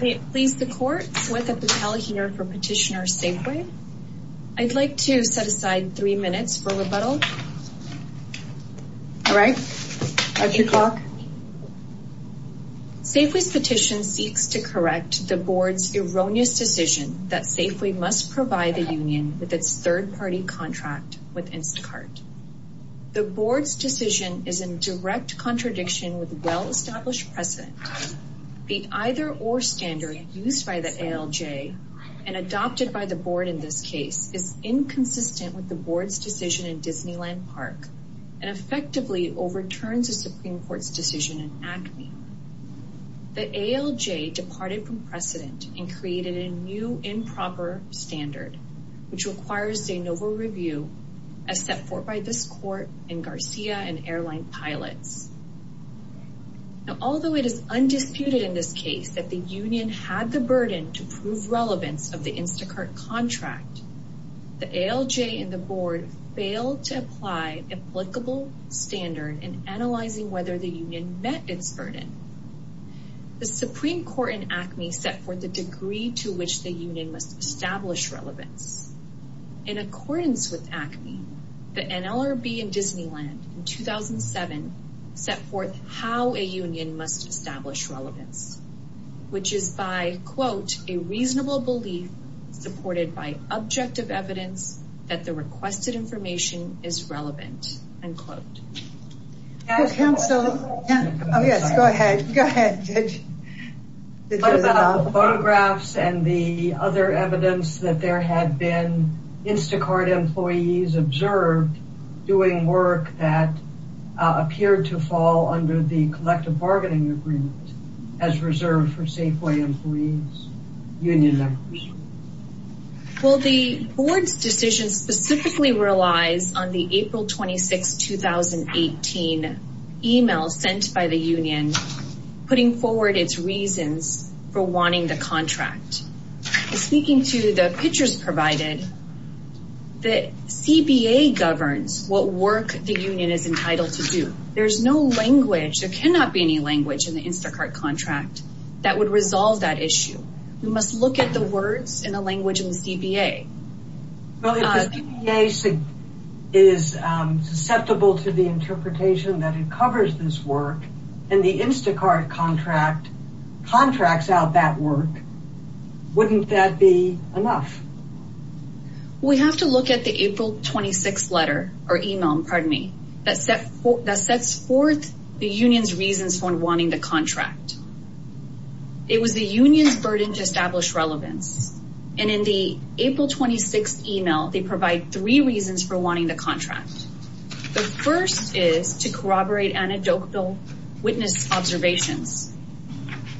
May it please the court, Swetha Patel here for petitioner Safeway. I'd like to set aside three minutes for rebuttal. All right, that's your clock. Safeway's petition seeks to correct the board's erroneous decision that Safeway must provide the union with its third-party contract with Instacart. The board's decision is in direct contradiction with well-established precedent. The either-or standard used by the ALJ and adopted by the board in this case is inconsistent with the board's decision in Disneyland Park, and effectively overturns the Supreme Court's decision in ACME. The ALJ departed from precedent and created a new improper standard, which requires de novo review, as set forth by this court and Garcia and Airline Pilots. Now, although it is undisputed in this case that the union had the burden to prove relevance of the Instacart contract, the ALJ and the board failed to apply applicable standard in analyzing whether the union met its burden. The Supreme Court in ACME set forth a degree to which the union must establish relevance. In accordance with ACME, the NLRB and Disneyland in 2007 set forth how a union must establish relevance, which is by, quote, a reasonable belief supported by objective evidence that the requested information is relevant, unquote. As counsel... Oh, yes, go ahead. Go ahead, Judge. About the photographs and the other evidence that there had been Instacart employees and the union has observed doing work that appeared to fall under the collective bargaining agreement as reserved for Safeway employees, union members. Well, the board's decision specifically relies on the April 26, 2018 email sent by the union putting forward its reasons for wanting the contract. Speaking to the pictures provided, the CBA governs what work the union is entitled to do. There's no language, there cannot be any language in the Instacart contract that would resolve that issue. We must look at the words and the language in the CBA. Well, if the CBA is susceptible to the interpretation that it covers this work and the Instacart contract contracts out that work, wouldn't that be enough? We have to look at the April 26 letter or email, pardon me, that sets forth the union's reasons for wanting the contract. It was the union's burden to establish relevance. And in the April 26 email, they provide three reasons for wanting the contract. The first is to corroborate anecdotal witness observations.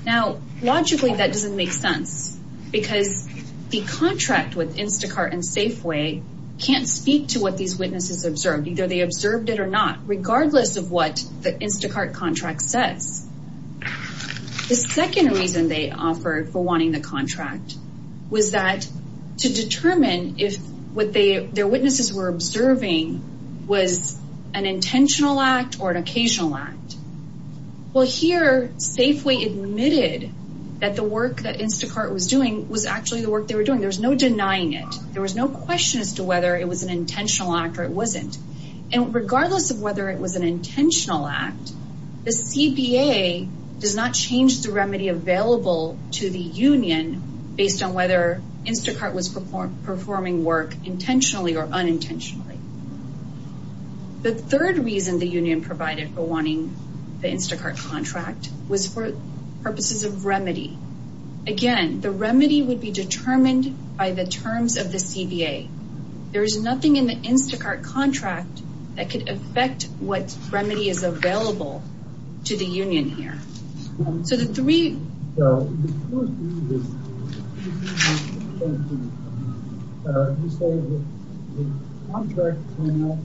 Now, logically, that doesn't make sense because the contract with Instacart and Safeway can't speak to what these witnesses observed, either they observed it or not, regardless of what the Instacart contract says. The second reason they offered for wanting the contract was that to determine if what their witnesses were observing was an intentional act or an occasional act. Well, here, Safeway admitted that the work that Instacart was doing was actually the work they were doing. There was no denying it. There was no question as to whether it was an intentional act or it wasn't. And regardless of whether it was an intentional act, the CBA does not change the remedy available to the union based on whether Instacart was performing work intentionally or unintentionally. The third reason the union provided for wanting the Instacart contract was for purposes of remedy. Again, the remedy would be determined by the terms of the CBA. There is nothing in the Instacart contract that could affect what remedy is available to the union here. So the three- Judge, you said that the contract cannot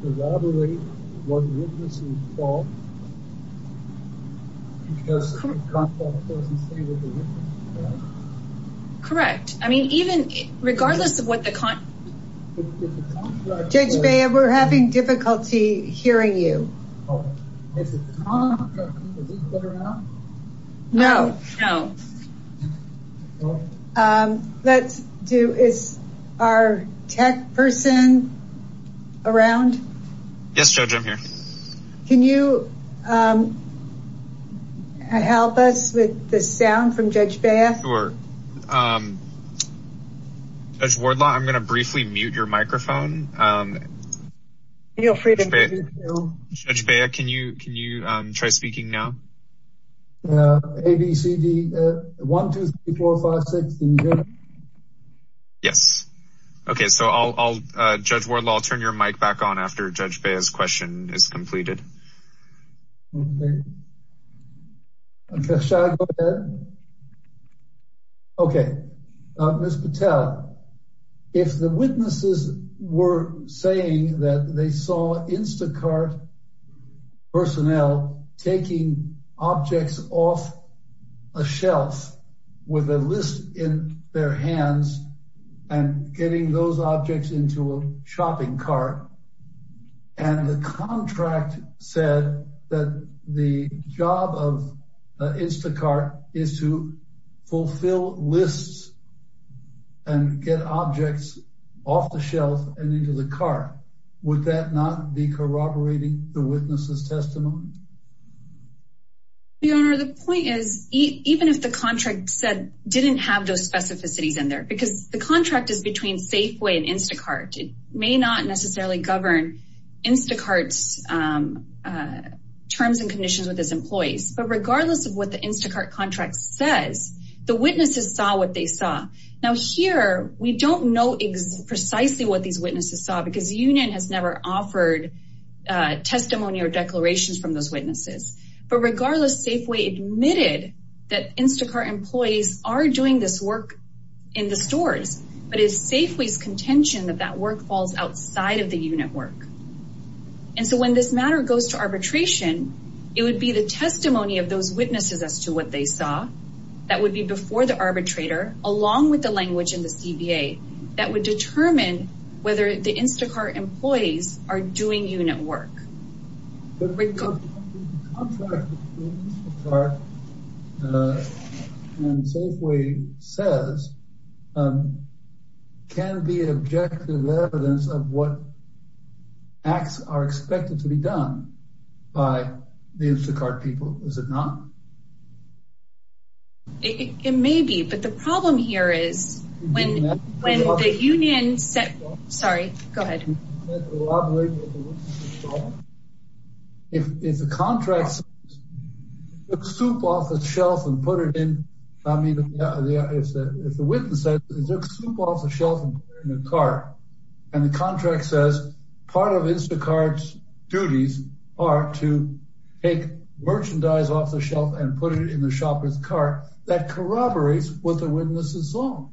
corroborate what the witnesses thought, because the contract doesn't say what the witnesses thought. Correct. I mean, even regardless of what the con- Judge Baya, we're having difficulty hearing you. Is the contract, is it there now? No. No. Let's do, is our tech person around? Yes, Judge, I'm here. Can you help us with the sound from Judge Baya? Sure. Judge Wardlaw, I'm gonna briefly mute your microphone. Feel free to mute it now. Judge Baya, can you try speaking now? A, B, C, D, 1, 2, 3, 4, 5, 6, can you hear me? Yes. Okay, so I'll, Judge Wardlaw, I'll turn your mic back on after Judge Baya's question is completed. Okay, shall I go ahead? Okay, Ms. Patel, if the witnesses were saying that they saw Instacart personnel taking objects off a shelf with a list in their hands and getting those objects into a shopping cart, and the contract said that the job of Instacart is to fulfill lists and get objects off the shelf and into the cart, would that not be corroborating the witness's testimony? Your Honor, the point is, even if the contract said, didn't have those specificities in there, because the contract is between Safeway and Instacart. It may not necessarily govern Instacart's terms and conditions with its employees, but regardless of what the Instacart contract says, the witnesses saw what they saw. Now here, we don't know precisely what these witnesses saw, because the union has never offered testimony or declarations from those witnesses. But regardless, Safeway admitted that Instacart employees are doing this work in the stores, but it's Safeway's contention that that work falls outside of the unit work. And so when this matter goes to arbitration, it would be the testimony of those witnesses as to what they saw, that would be before the arbitrator, along with the language in the CBA, that would determine whether the Instacart employees are doing unit work. Rick, go ahead. The contract between Instacart and Safeway says, can be objective evidence of what acts are expected to be done by the Instacart people. Is it not? It may be, but the problem here is, when the union said, sorry, go ahead. If the contract says, took soup off the shelf and put it in, I mean, if the witness said, they took soup off the shelf and put it in a cart, and the contract says, part of Instacart's duties are to take merchandise off the shelf and put it in the shopper's cart, that corroborates what the witnesses saw.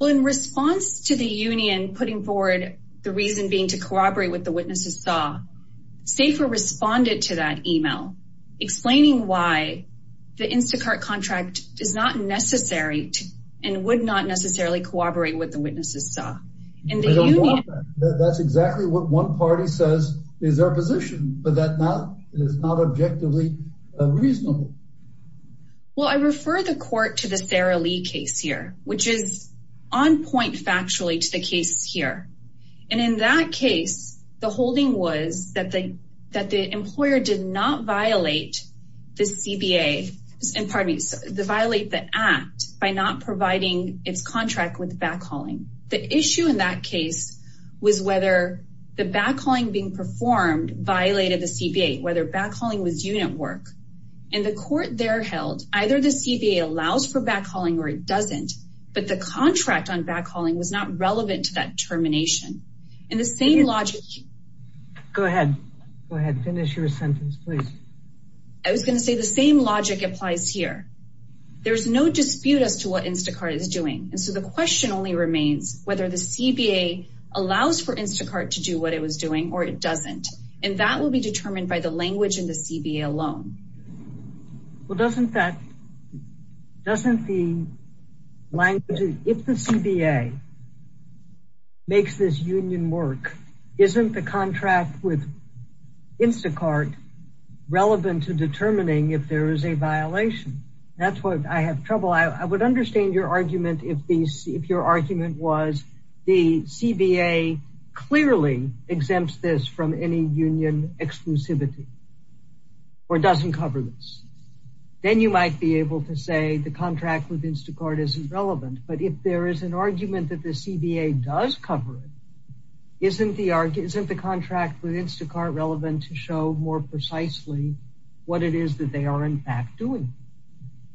Well, in response to the union putting forward the reason being to corroborate what the witnesses saw, Safer responded to that email, explaining why the Instacart contract is not necessary and would not necessarily corroborate what the witnesses saw. And the union- I don't want that. That's exactly what one party says is their position, but that is not objectively reasonable. Well, I refer the court to the Sarah Lee case here, which is on point factually to the case here. And in that case, the holding was that the employer did not violate the CBA, and pardon me, violate the act by not providing its contract with backhauling. The issue in that case was whether the backhauling being performed violated the CBA, whether backhauling was unit work. In the court they're held, either the CBA allows for backhauling or it doesn't, but the contract on backhauling was not relevant to that termination. In the same logic- Go ahead. Go ahead, finish your sentence, please. I was gonna say the same logic applies here. There's no dispute as to what Instacart is doing. And so the question only remains whether the CBA allows for Instacart to do what it was doing or it doesn't. And that will be determined by the language in the CBA alone. Well, doesn't that, doesn't the language, if the CBA makes this union work, isn't the contract with Instacart relevant to determining if there is a violation? That's what I have trouble. I would understand your argument if your argument was the CBA clearly exempts this from any union exclusivity. Or it doesn't cover this. Then you might be able to say the contract with Instacart isn't relevant. But if there is an argument that the CBA does cover it, isn't the contract with Instacart relevant to show more precisely what it is that they are in fact doing?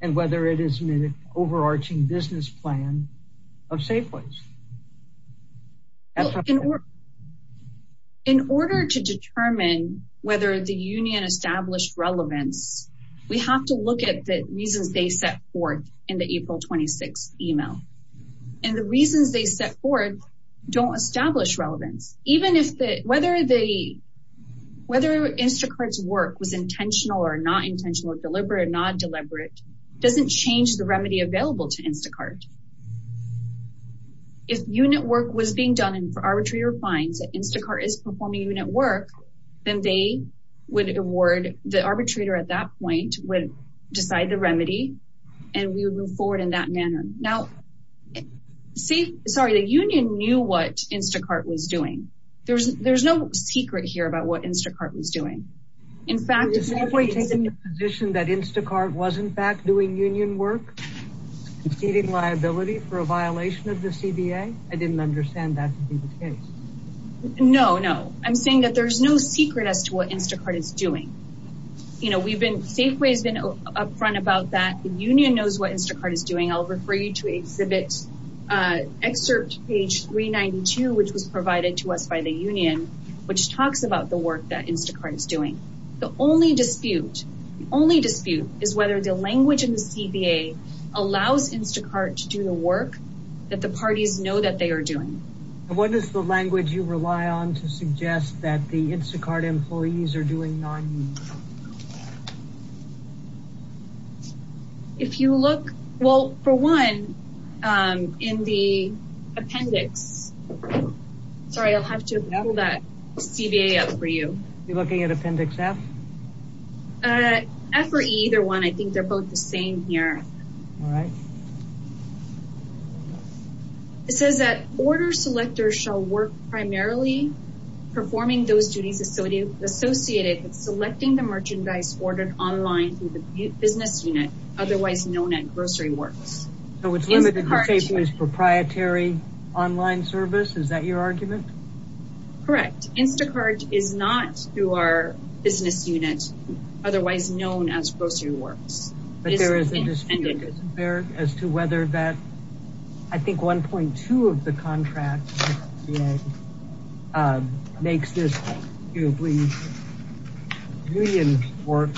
And whether it is an overarching business plan of Safeways? Well, in order to determine whether the union established relevance, we have to look at the reasons they set forth in the April 26th email. And the reasons they set forth don't establish relevance. Even if the, whether Instacart's work was intentional or not intentional, deliberate or not deliberate, doesn't change the remedy available to Instacart. If unit work was being done and for arbitrary or fines that Instacart is performing unit work, then they would award, the arbitrator at that point would decide the remedy and we would move forward in that manner. Now, see, sorry, the union knew what Instacart was doing. There's no secret here about what Instacart was doing. In fact- Is Safeway taking the position that Instacart was in fact doing union work, conceding liability for a violation of the CBA? I didn't understand that to be the case. No, no. I'm saying that there's no secret as to what Instacart is doing. You know, we've been, Safeway has been upfront about that. The union knows what Instacart is doing. I'll refer you to exhibit excerpt page 392, which was provided to us by the union, which talks about the work that Instacart is doing. The only dispute, the only dispute, is whether the language in the CBA allows Instacart to do the work that the parties know that they are doing. And what is the language you rely on to suggest that the Instacart employees are doing non-union work? If you look, well, for one, in the appendix, sorry, I'll have to level that CBA up for you. You're looking at appendix F? F or E, either one. I think they're both the same here. All right. It says that order selectors shall work primarily performing those duties associated with selecting the merchandise ordered online through the business unit, otherwise known as grocery works. So it's limited to, say, proprietary online service? Is that your argument? Correct. Instacart is not, through our business unit, otherwise known as grocery works. But there is a dispute as to whether that, I think 1.2 of the contract makes this union work.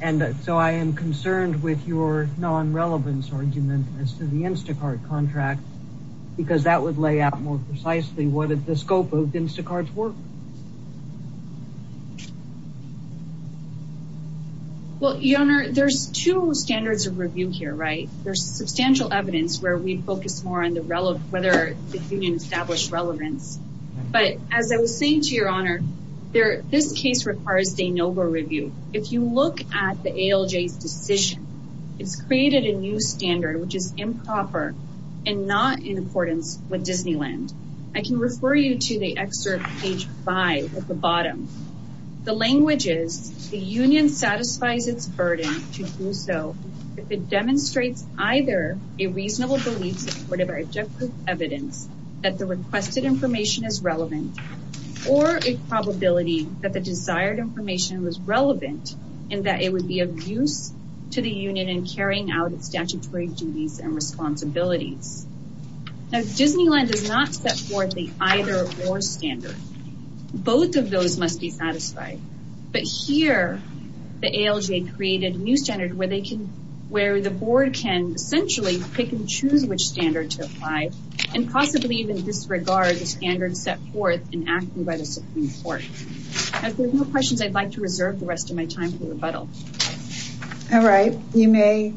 And so I am concerned with your non-relevance argument as to the Instacart contract, because that would lay out more precisely what is the scope of Instacart's work. Well, your Honor, there's two standards of review here, right? There's substantial evidence where we'd focus more on whether the union established relevance. But as I was saying to your Honor, this case requires de novo review. If you look at the ALJ's decision, it's created a new standard, which is improper and not in accordance with Disneyland. I can refer you to the excerpt page four five at the bottom. The language is, the union satisfies its burden to do so if it demonstrates either a reasonable belief supported by objective evidence that the requested information is relevant, or a probability that the desired information was relevant and that it would be of use to the union in carrying out its statutory duties and responsibilities. Now, Disneyland does not set forth the either or standard. Both of those must be satisfied. But here, the ALJ created a new standard where the board can essentially pick and choose which standard to apply, and possibly even disregard the standard set forth in acting by the Supreme Court. If there's no questions, I'd like to reserve the rest of my time for rebuttal. All right, you may,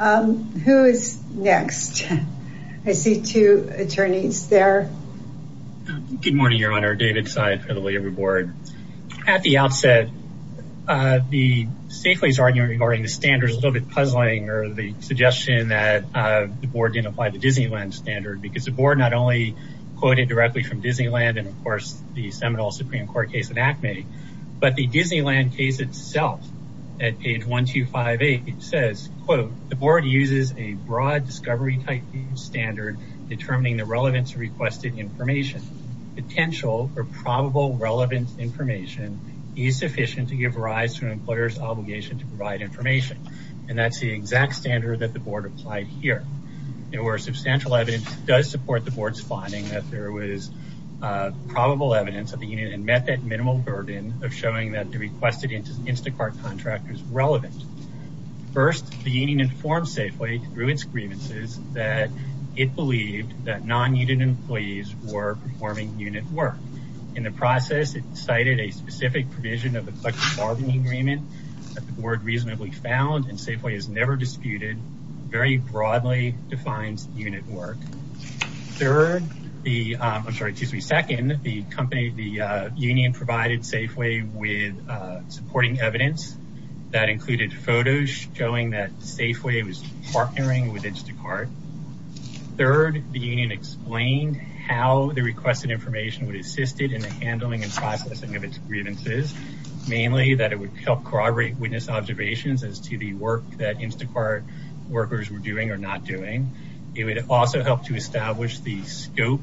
who is next? I see two attorneys there. Good morning, Your Honor. David Tsai for the labor board. At the outset, the Safely's argument regarding the standard is a little bit puzzling, or the suggestion that the board didn't apply the Disneyland standard, because the board not only quoted directly from Disneyland, and of course, the Seminole Supreme Court case in ACME, but the Disneyland case itself, at page 1258, it says, quote, the board uses a broad discovery type standard determining the relevance of requested information. Potential or probable relevant information is sufficient to give rise to an employer's obligation to provide information. And that's the exact standard that the board applied here. There were substantial evidence that does support the board's finding that there was probable evidence of the unit and met that minimal burden of showing that the requested Instacart contract is relevant. First, the union informed Safely through its grievances that it believed that non-unit employees were performing unit work. In the process, it cited a specific provision of the collective bargaining agreement that the board reasonably found, and Safely has never disputed, very broadly defines unit work. Third, the, I'm sorry, excuse me, second, the company, the union provided Safely with supporting evidence that included photos showing that Safely was partnering with Instacart. Third, the union explained how the requested information would assist it in the handling and processing of its grievances, mainly that it would help corroborate witness observations as to the work that Instacart workers were doing or not doing. It would also help to establish the scope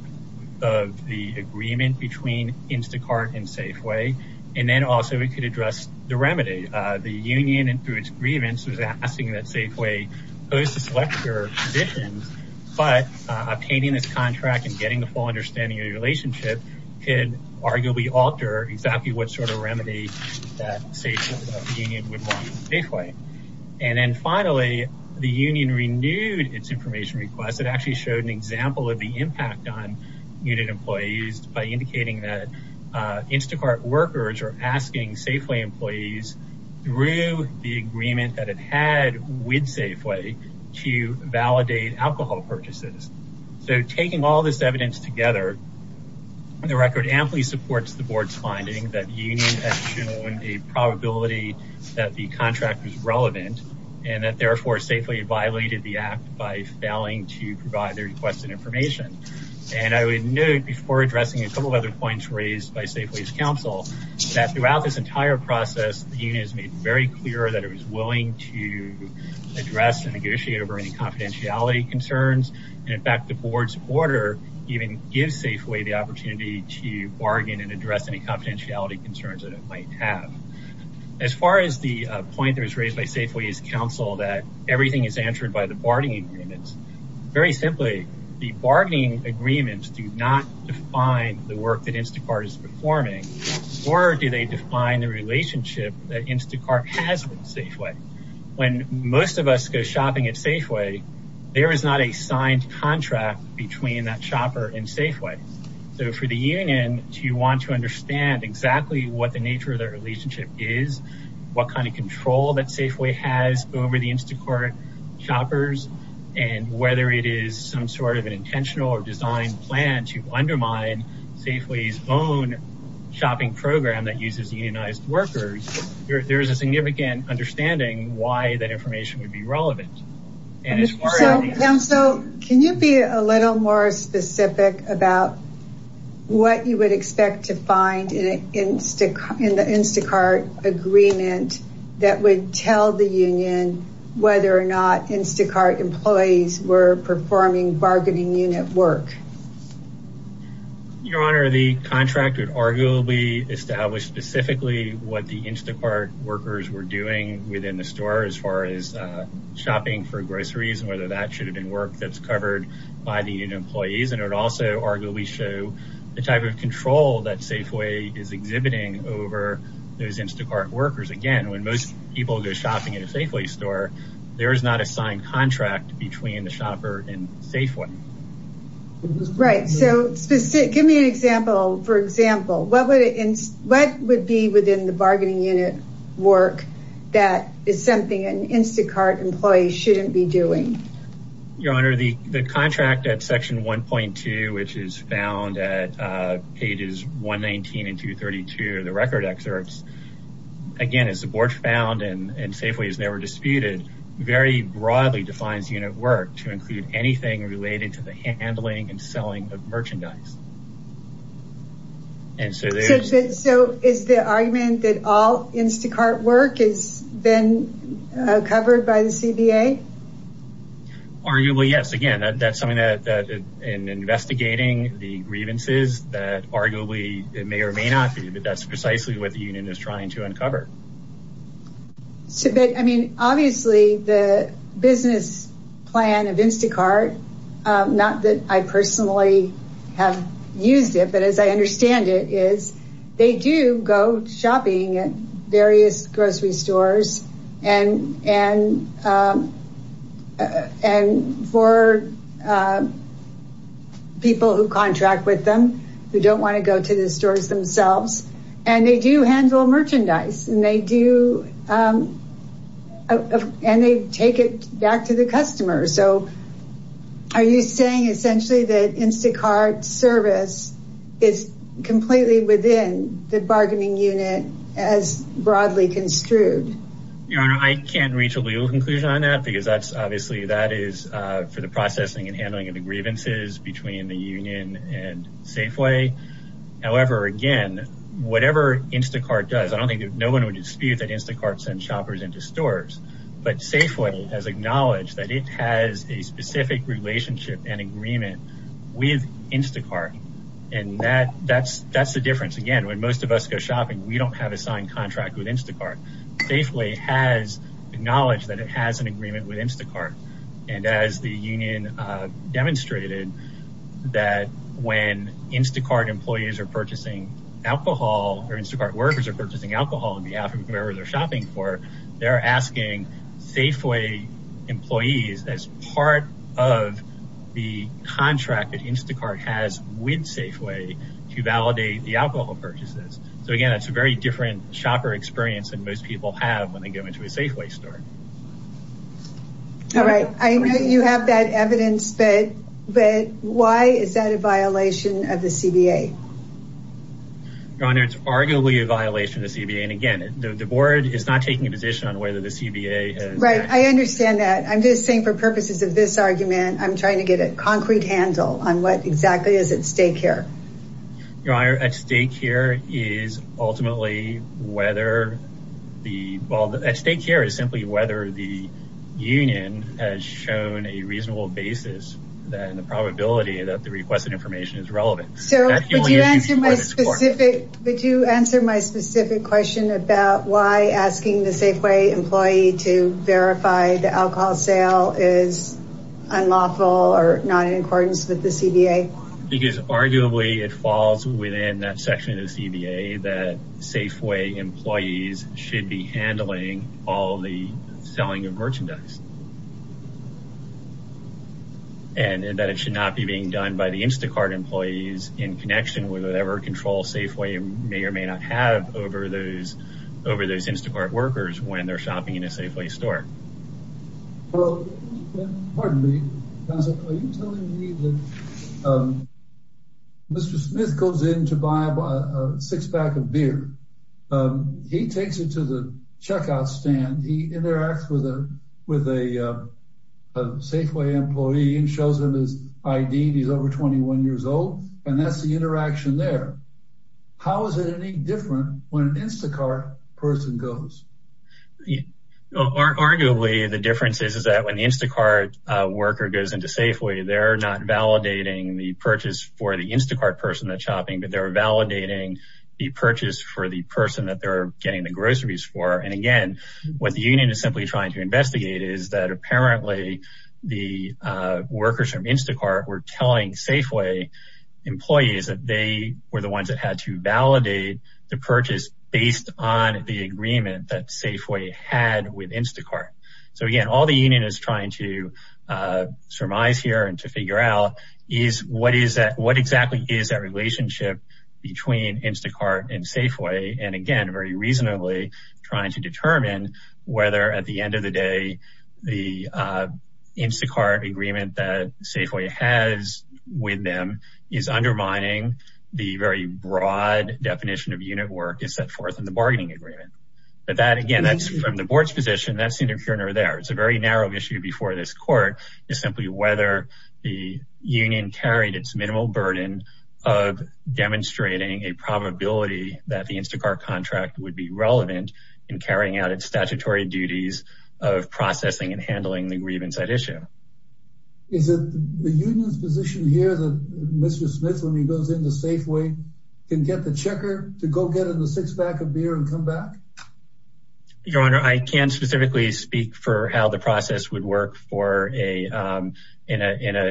of the agreement between Instacart and Safely, and then also it could address the remedy. The union, and through its grievance, was asking that Safely pose the selector positions, but obtaining this contract and getting the full understanding of the relationship could arguably alter exactly what sort of remedy that Safely, the union would want Safely. And then finally, the union renewed its information request. It actually showed an example of the impact on unit employees by indicating that Instacart workers are asking Safely employees through the agreement that it had with Safely to validate alcohol purchases. So taking all this evidence together, the record amply supports the board's finding that union has shown a probability that the contract was relevant, and that therefore Safely violated the act by failing to provide the requested information. And I would note before addressing a couple of other points raised by Safely's counsel, that throughout this entire process, the union has made very clear that it was willing to address and negotiate over any confidentiality concerns. And in fact, the board's order even gives Safely the opportunity to bargain and address any confidentiality concerns that it might have. As far as the point that was raised by Safely's counsel that everything is answered by the bargaining agreements, very simply, the bargaining agreements do not define the work that Instacart is performing, nor do they define the relationship that Instacart has with Safely. When most of us go shopping at Safely, there is not a signed contract between that shopper and Safely. So for the union to want to understand exactly what the nature of their relationship is, what kind of control that Safely has over the Instacart shoppers, and whether it is some sort of an intentional or designed plan to undermine Safely's own shopping program that uses unionized workers, there is a significant understanding why that information would be relevant. And as far as- So counsel, can you be a little more specific about what you would expect to find in the Instacart agreement that would tell the union whether or not Instacart employees were performing bargaining unit work? Your Honor, the contract would arguably establish specifically what the Instacart workers were doing within the store, as far as shopping for groceries and whether that should have been work that's covered by the union employees. And it would also arguably show the type of control that Safely is exhibiting over those Instacart workers. Again, when most people go shopping at a Safely store, there is not a signed contract between the shopper and Safely. Right, so give me an example. For example, what would be within the bargaining unit work that is something an Instacart employee shouldn't be doing? Your Honor, the contract at section 1.2, which is found at pages 119 and 232 of the record excerpts, again, is the board found and Safely is never disputed, very broadly defines unit work to include anything related to the handling and selling of merchandise. And so there's- So is the argument that all Instacart work is then covered by the CBA? Arguably, yes. Again, that's something that in investigating the grievances that arguably it may or may not be, but that's precisely what the union is trying to uncover. So, but I mean, obviously the business plan of Instacart, not that I personally have used it, but as I understand it, is they do go shopping at various grocery stores and for people who contract with them, who don't want to go to the stores themselves, and they do handle merchandise and they do, and they take it back to the customer. So are you saying essentially that Instacart service is completely within the bargaining unit as broadly construed? Your Honor, I can't reach a legal conclusion on that because that's obviously that is for the processing and handling of the grievances between the union and Safeway. However, again, whatever Instacart does, I don't think that no one would dispute that Instacart sends shoppers into stores, but Safeway has acknowledged that it has a specific relationship and agreement with Instacart. And that's the difference. Again, when most of us go shopping, we don't have a signed contract with Instacart. Safeway has acknowledged that it has an agreement with Instacart. And as the union demonstrated, that when Instacart employees are purchasing alcohol or Instacart workers are purchasing alcohol on behalf of whoever they're shopping for, they're asking Safeway employees as part of the contract that Instacart has with Safeway to validate the alcohol purchases. So again, that's a very different shopper experience than most people have when they go into a Safeway store. All right. I know you have that evidence, but why is that a violation of the CBA? Your Honor, it's arguably a violation of the CBA. And again, the board is not taking a position on whether the CBA has- Right, I understand that. I'm just saying for purposes of this argument, I'm trying to get a concrete handle on what exactly is at stake here. Your Honor, at stake here is ultimately whether the, well, at stake here is simply whether the union has shown a reasonable basis, then the probability that the requested information is relevant. So, would you answer my specific, would you answer my specific question about why asking the Safeway employee to verify the alcohol sale is unlawful or not in accordance with the CBA? Because arguably it falls within that section of the CBA that Safeway employees should be handling all the selling of merchandise. And that it should not be being done by the Instacart employees in connection with whatever control Safeway may or may not have over those Instacart workers when they're shopping in a Safeway store. Well, pardon me, counsel. Are you telling me that Mr. Smith goes in to buy a six pack of beer. He takes it to the checkout stand. He interacts with a Safeway employee and shows him his ID and he's over 21 years old. And that's the interaction there. How is it any different when an Instacart person goes? Well, arguably the difference is, is that when the Instacart worker goes into Safeway, they're not validating the purchase for the Instacart person that's shopping, but they're validating the purchase for the person that they're getting the groceries for. And again, what the union is simply trying to investigate is that apparently the workers from Instacart were telling Safeway employees that they were the ones that had to validate the purchase based on the agreement that Safeway had with Instacart. So again, all the union is trying to surmise here and to figure out is what exactly is that relationship between Instacart and Safeway. And again, very reasonably trying to determine whether at the end of the day, the Instacart agreement that Safeway has with them is undermining the very broad definition of unit work is set forth in the bargaining agreement. But that again, that's from the board's position. That's the interference there. It's a very narrow issue before this court is simply whether the union carried its minimal burden of demonstrating a probability that the Instacart contract would be relevant in carrying out its statutory duties of processing and handling the grievance at issue. Is it the union's position here that Mr. Smith, when he goes into Safeway, can get the checker to go get him a six pack of beer and come back? Your Honor, I can't specifically speak for how the process would work for in a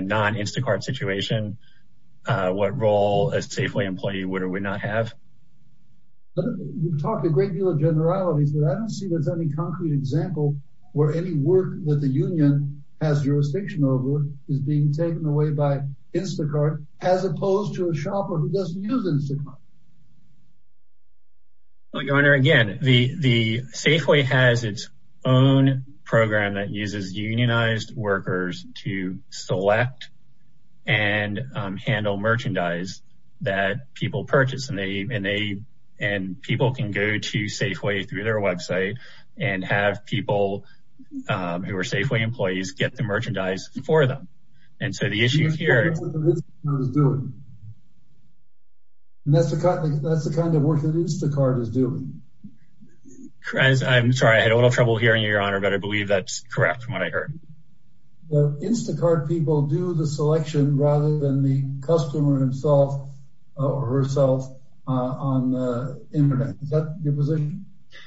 non-Instacart situation, what role a Safeway employee would or would not have. You've talked a great deal of generalities, but I don't see there's any concrete example where any work that the union has jurisdiction over is being taken away by Instacart as opposed to a shopper who doesn't use Instacart. Your Honor, again, the Safeway has its own program that uses unionized workers to select and handle merchandise that people purchase, and people can go to Safeway through their website and have people who are Safeway employees get the merchandise for them. And so the issue here- You just don't know what the business owner is doing. And that's the kind of work that Instacart is doing. I'm sorry, I had a little trouble hearing you, Your Honor, but I believe that's correct from what I heard. The Instacart people do the selection rather than the customer himself or herself on the internet. Is that your position?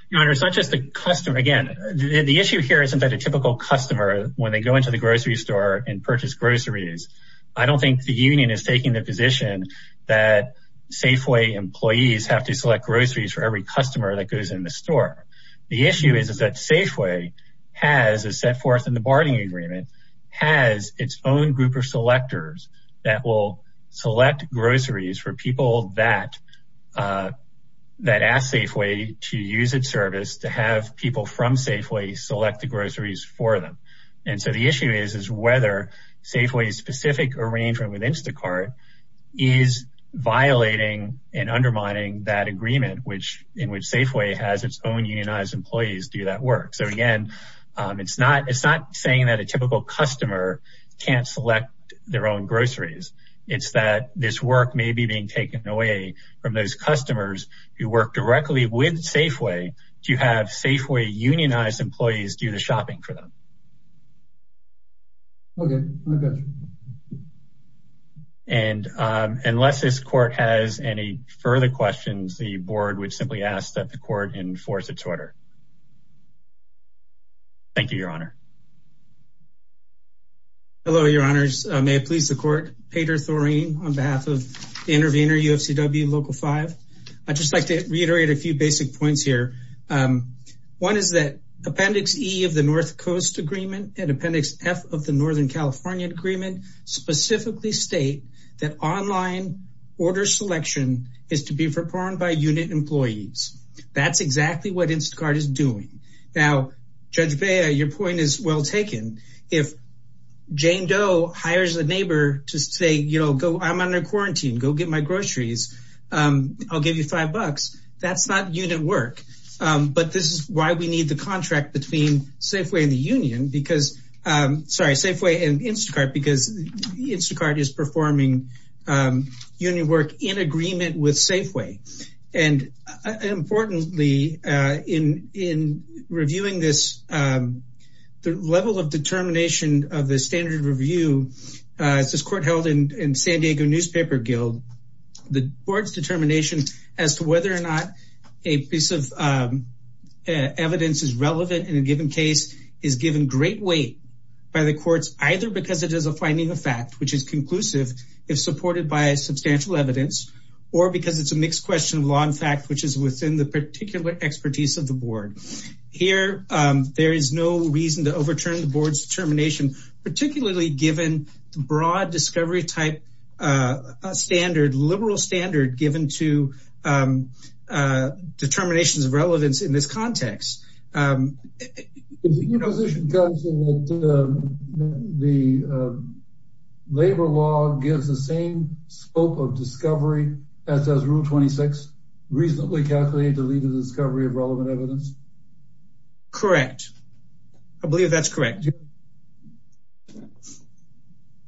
Your Honor, it's not just the customer. Again, the issue here isn't that a typical customer, when they go into the grocery store and purchase groceries, I don't think the union is taking the position that Safeway employees have to select groceries for every customer that goes in the store. The issue is that Safeway has, as set forth in the bartering agreement, has its own group of selectors that will select groceries for people that ask Safeway to use its service to have people from Safeway select the groceries for them. And so the issue is, whether Safeway's specific arrangement with Instacart is violating and undermining that agreement in which Safeway has its own unionized employees do that work. So again, it's not saying that a typical customer can't select their own groceries. It's that this work may be being taken away from those customers who work directly with Safeway to have Safeway unionized employees do the shopping for them. Okay, I got you. And unless this court has any further questions, the board would simply ask that the court enforce its order. Thank you, Your Honor. Hello, Your Honors. May it please the court. Peter Thorine on behalf of the intervener, UFCW Local 5. I'd just like to reiterate a few basic points here. One is that Appendix E of the North Coast Agreement and Appendix F of the Northern California Agreement specifically state that online order selection is to be performed by unit employees. That's exactly what Instacart is doing. Now, Judge Bea, your point is well taken. If Jane Doe hires a neighbor to say, I'm under quarantine, go get my groceries. I'll give you five bucks. That's not unit work. But this is why we need the contract between Safeway and the union, sorry, Safeway and Instacart, because Instacart is performing union work in agreement with Safeway. And importantly, in reviewing this, the level of determination of the standard review, this court held in San Diego Newspaper Guild, the board's determination as to whether or not a piece of evidence is relevant in a given case is given great weight by the courts, either because it is a finding of fact, which is conclusive if supported by substantial evidence, or because it's a mixed question of law and fact, which is within the particular expertise of the board. Here, there is no reason to overturn the board's determination, particularly given the broad discovery type standard, liberal standard given to determinations of relevance in this context. Your position, counsel, that the labor law gives the same scope of discovery as does rule 26, reasonably calculated to lead to the discovery of relevant evidence? Correct. I believe that's correct.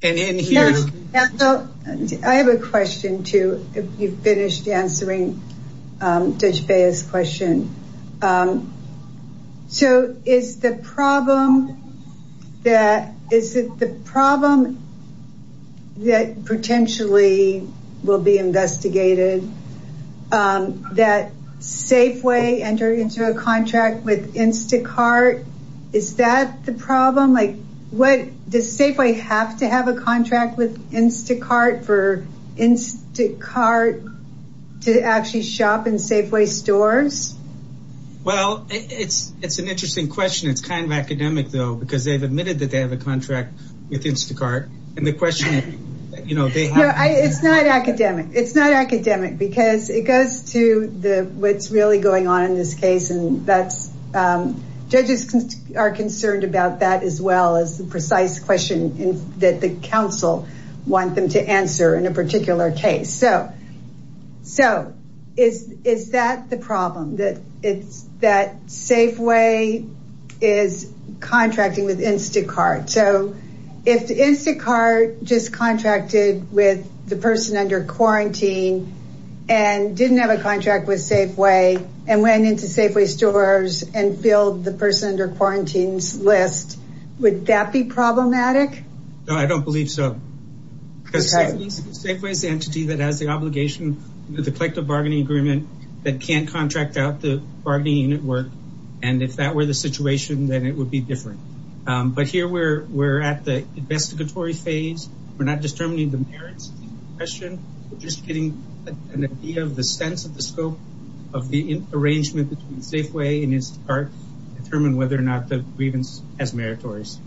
And in here- Counsel, I have a question, too, if you've finished answering Judge Beah's question. So is the problem that, is it the problem that potentially will be investigated that Safeway entered into a contract with Instacart? Is that the problem? Like, what, does Safeway have to have a contract with Instacart for Instacart to actually shop in Safeway stores? Well, it's an interesting question. It's kind of academic, though, because they've admitted that they have a contract with Instacart. And the question, you know, they have- It's not academic. It's not academic, because it goes to what's really going on in this case. And that's, judges are concerned about that as well as the precise question that the counsel want them to answer in a particular case. So, is that the problem, that Safeway is contracting with Instacart? So if Instacart just contracted with the person under quarantine and didn't have a contract with Safeway and went into Safeway stores and filled the person under quarantine's list, would that be problematic? No, I don't believe so. Because Safeway's the entity that has the obligation with the collective bargaining agreement that can't contract out the bargaining unit work. And if that were the situation, then it would be different. But here, we're at the investigatory phase. We're not determining the merits of the question. We're just getting an idea of the sense of the scope of the arrangement between Safeway and Instacart to determine whether or not the grievance has meritories.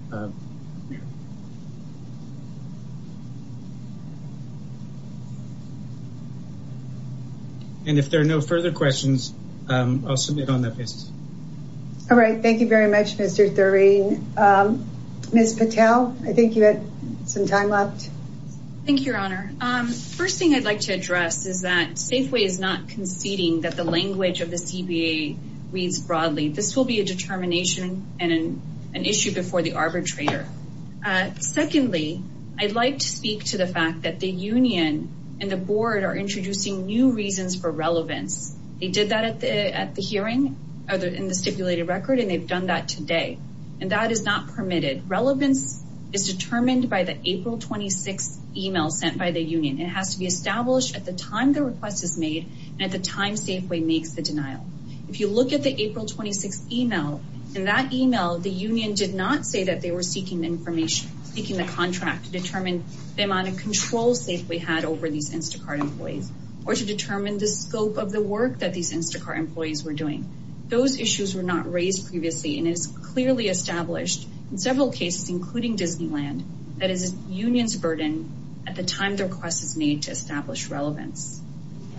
And if there are no further questions, I'll submit on that basis. All right, thank you very much, Mr. Thurine. Ms. Patel, I think you had some time left. Thank you, Your Honor. First thing I'd like to address is that Safeway is not conceding that the language of the CBA reads broadly. and an issue before the arbitrator. Secondly, I'd like to address I'd like to speak to the fact that the union and the board are introducing new reasons for relevance. They did that at the hearing, other in the stipulated record, and they've done that today. And that is not permitted. Relevance is determined by the April 26 email sent by the union. It has to be established at the time the request is made and at the time Safeway makes the denial. If you look at the April 26 email, in that email, the union did not say that they were seeking information, seeking the contract to determine the amount of control Safeway had over these Instacart employees, or to determine the scope of the work that these Instacart employees were doing. Those issues were not raised previously, and it is clearly established in several cases, including Disneyland, that is a union's burden at the time the request is made to establish relevance.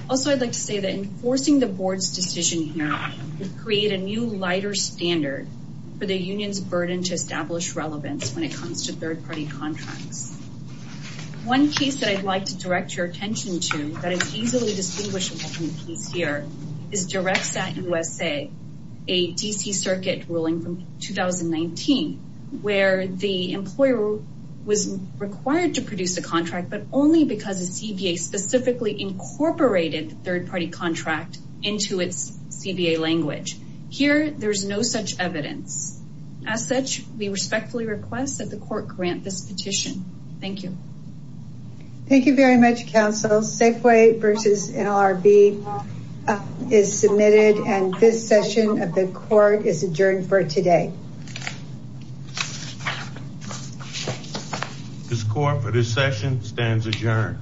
Also, I'd like to say that enforcing the board's decision here would create a new, lighter standard for the union's burden to establish relevance when it comes to third-party contracts. One case that I'd like to direct your attention to, that is easily distinguishable from the case here, is DirectSAT USA, a DC circuit ruling from 2019, where the employer was required to produce a contract, but only because the CBA specifically incorporated the third-party contract into its CBA language. Here, there's no such evidence. As such, we respectfully request that the court grant this petition. Thank you. Thank you very much, counsel. Safeway versus NLRB is submitted, and this session of the court is adjourned for today. This court for this session stands adjourned.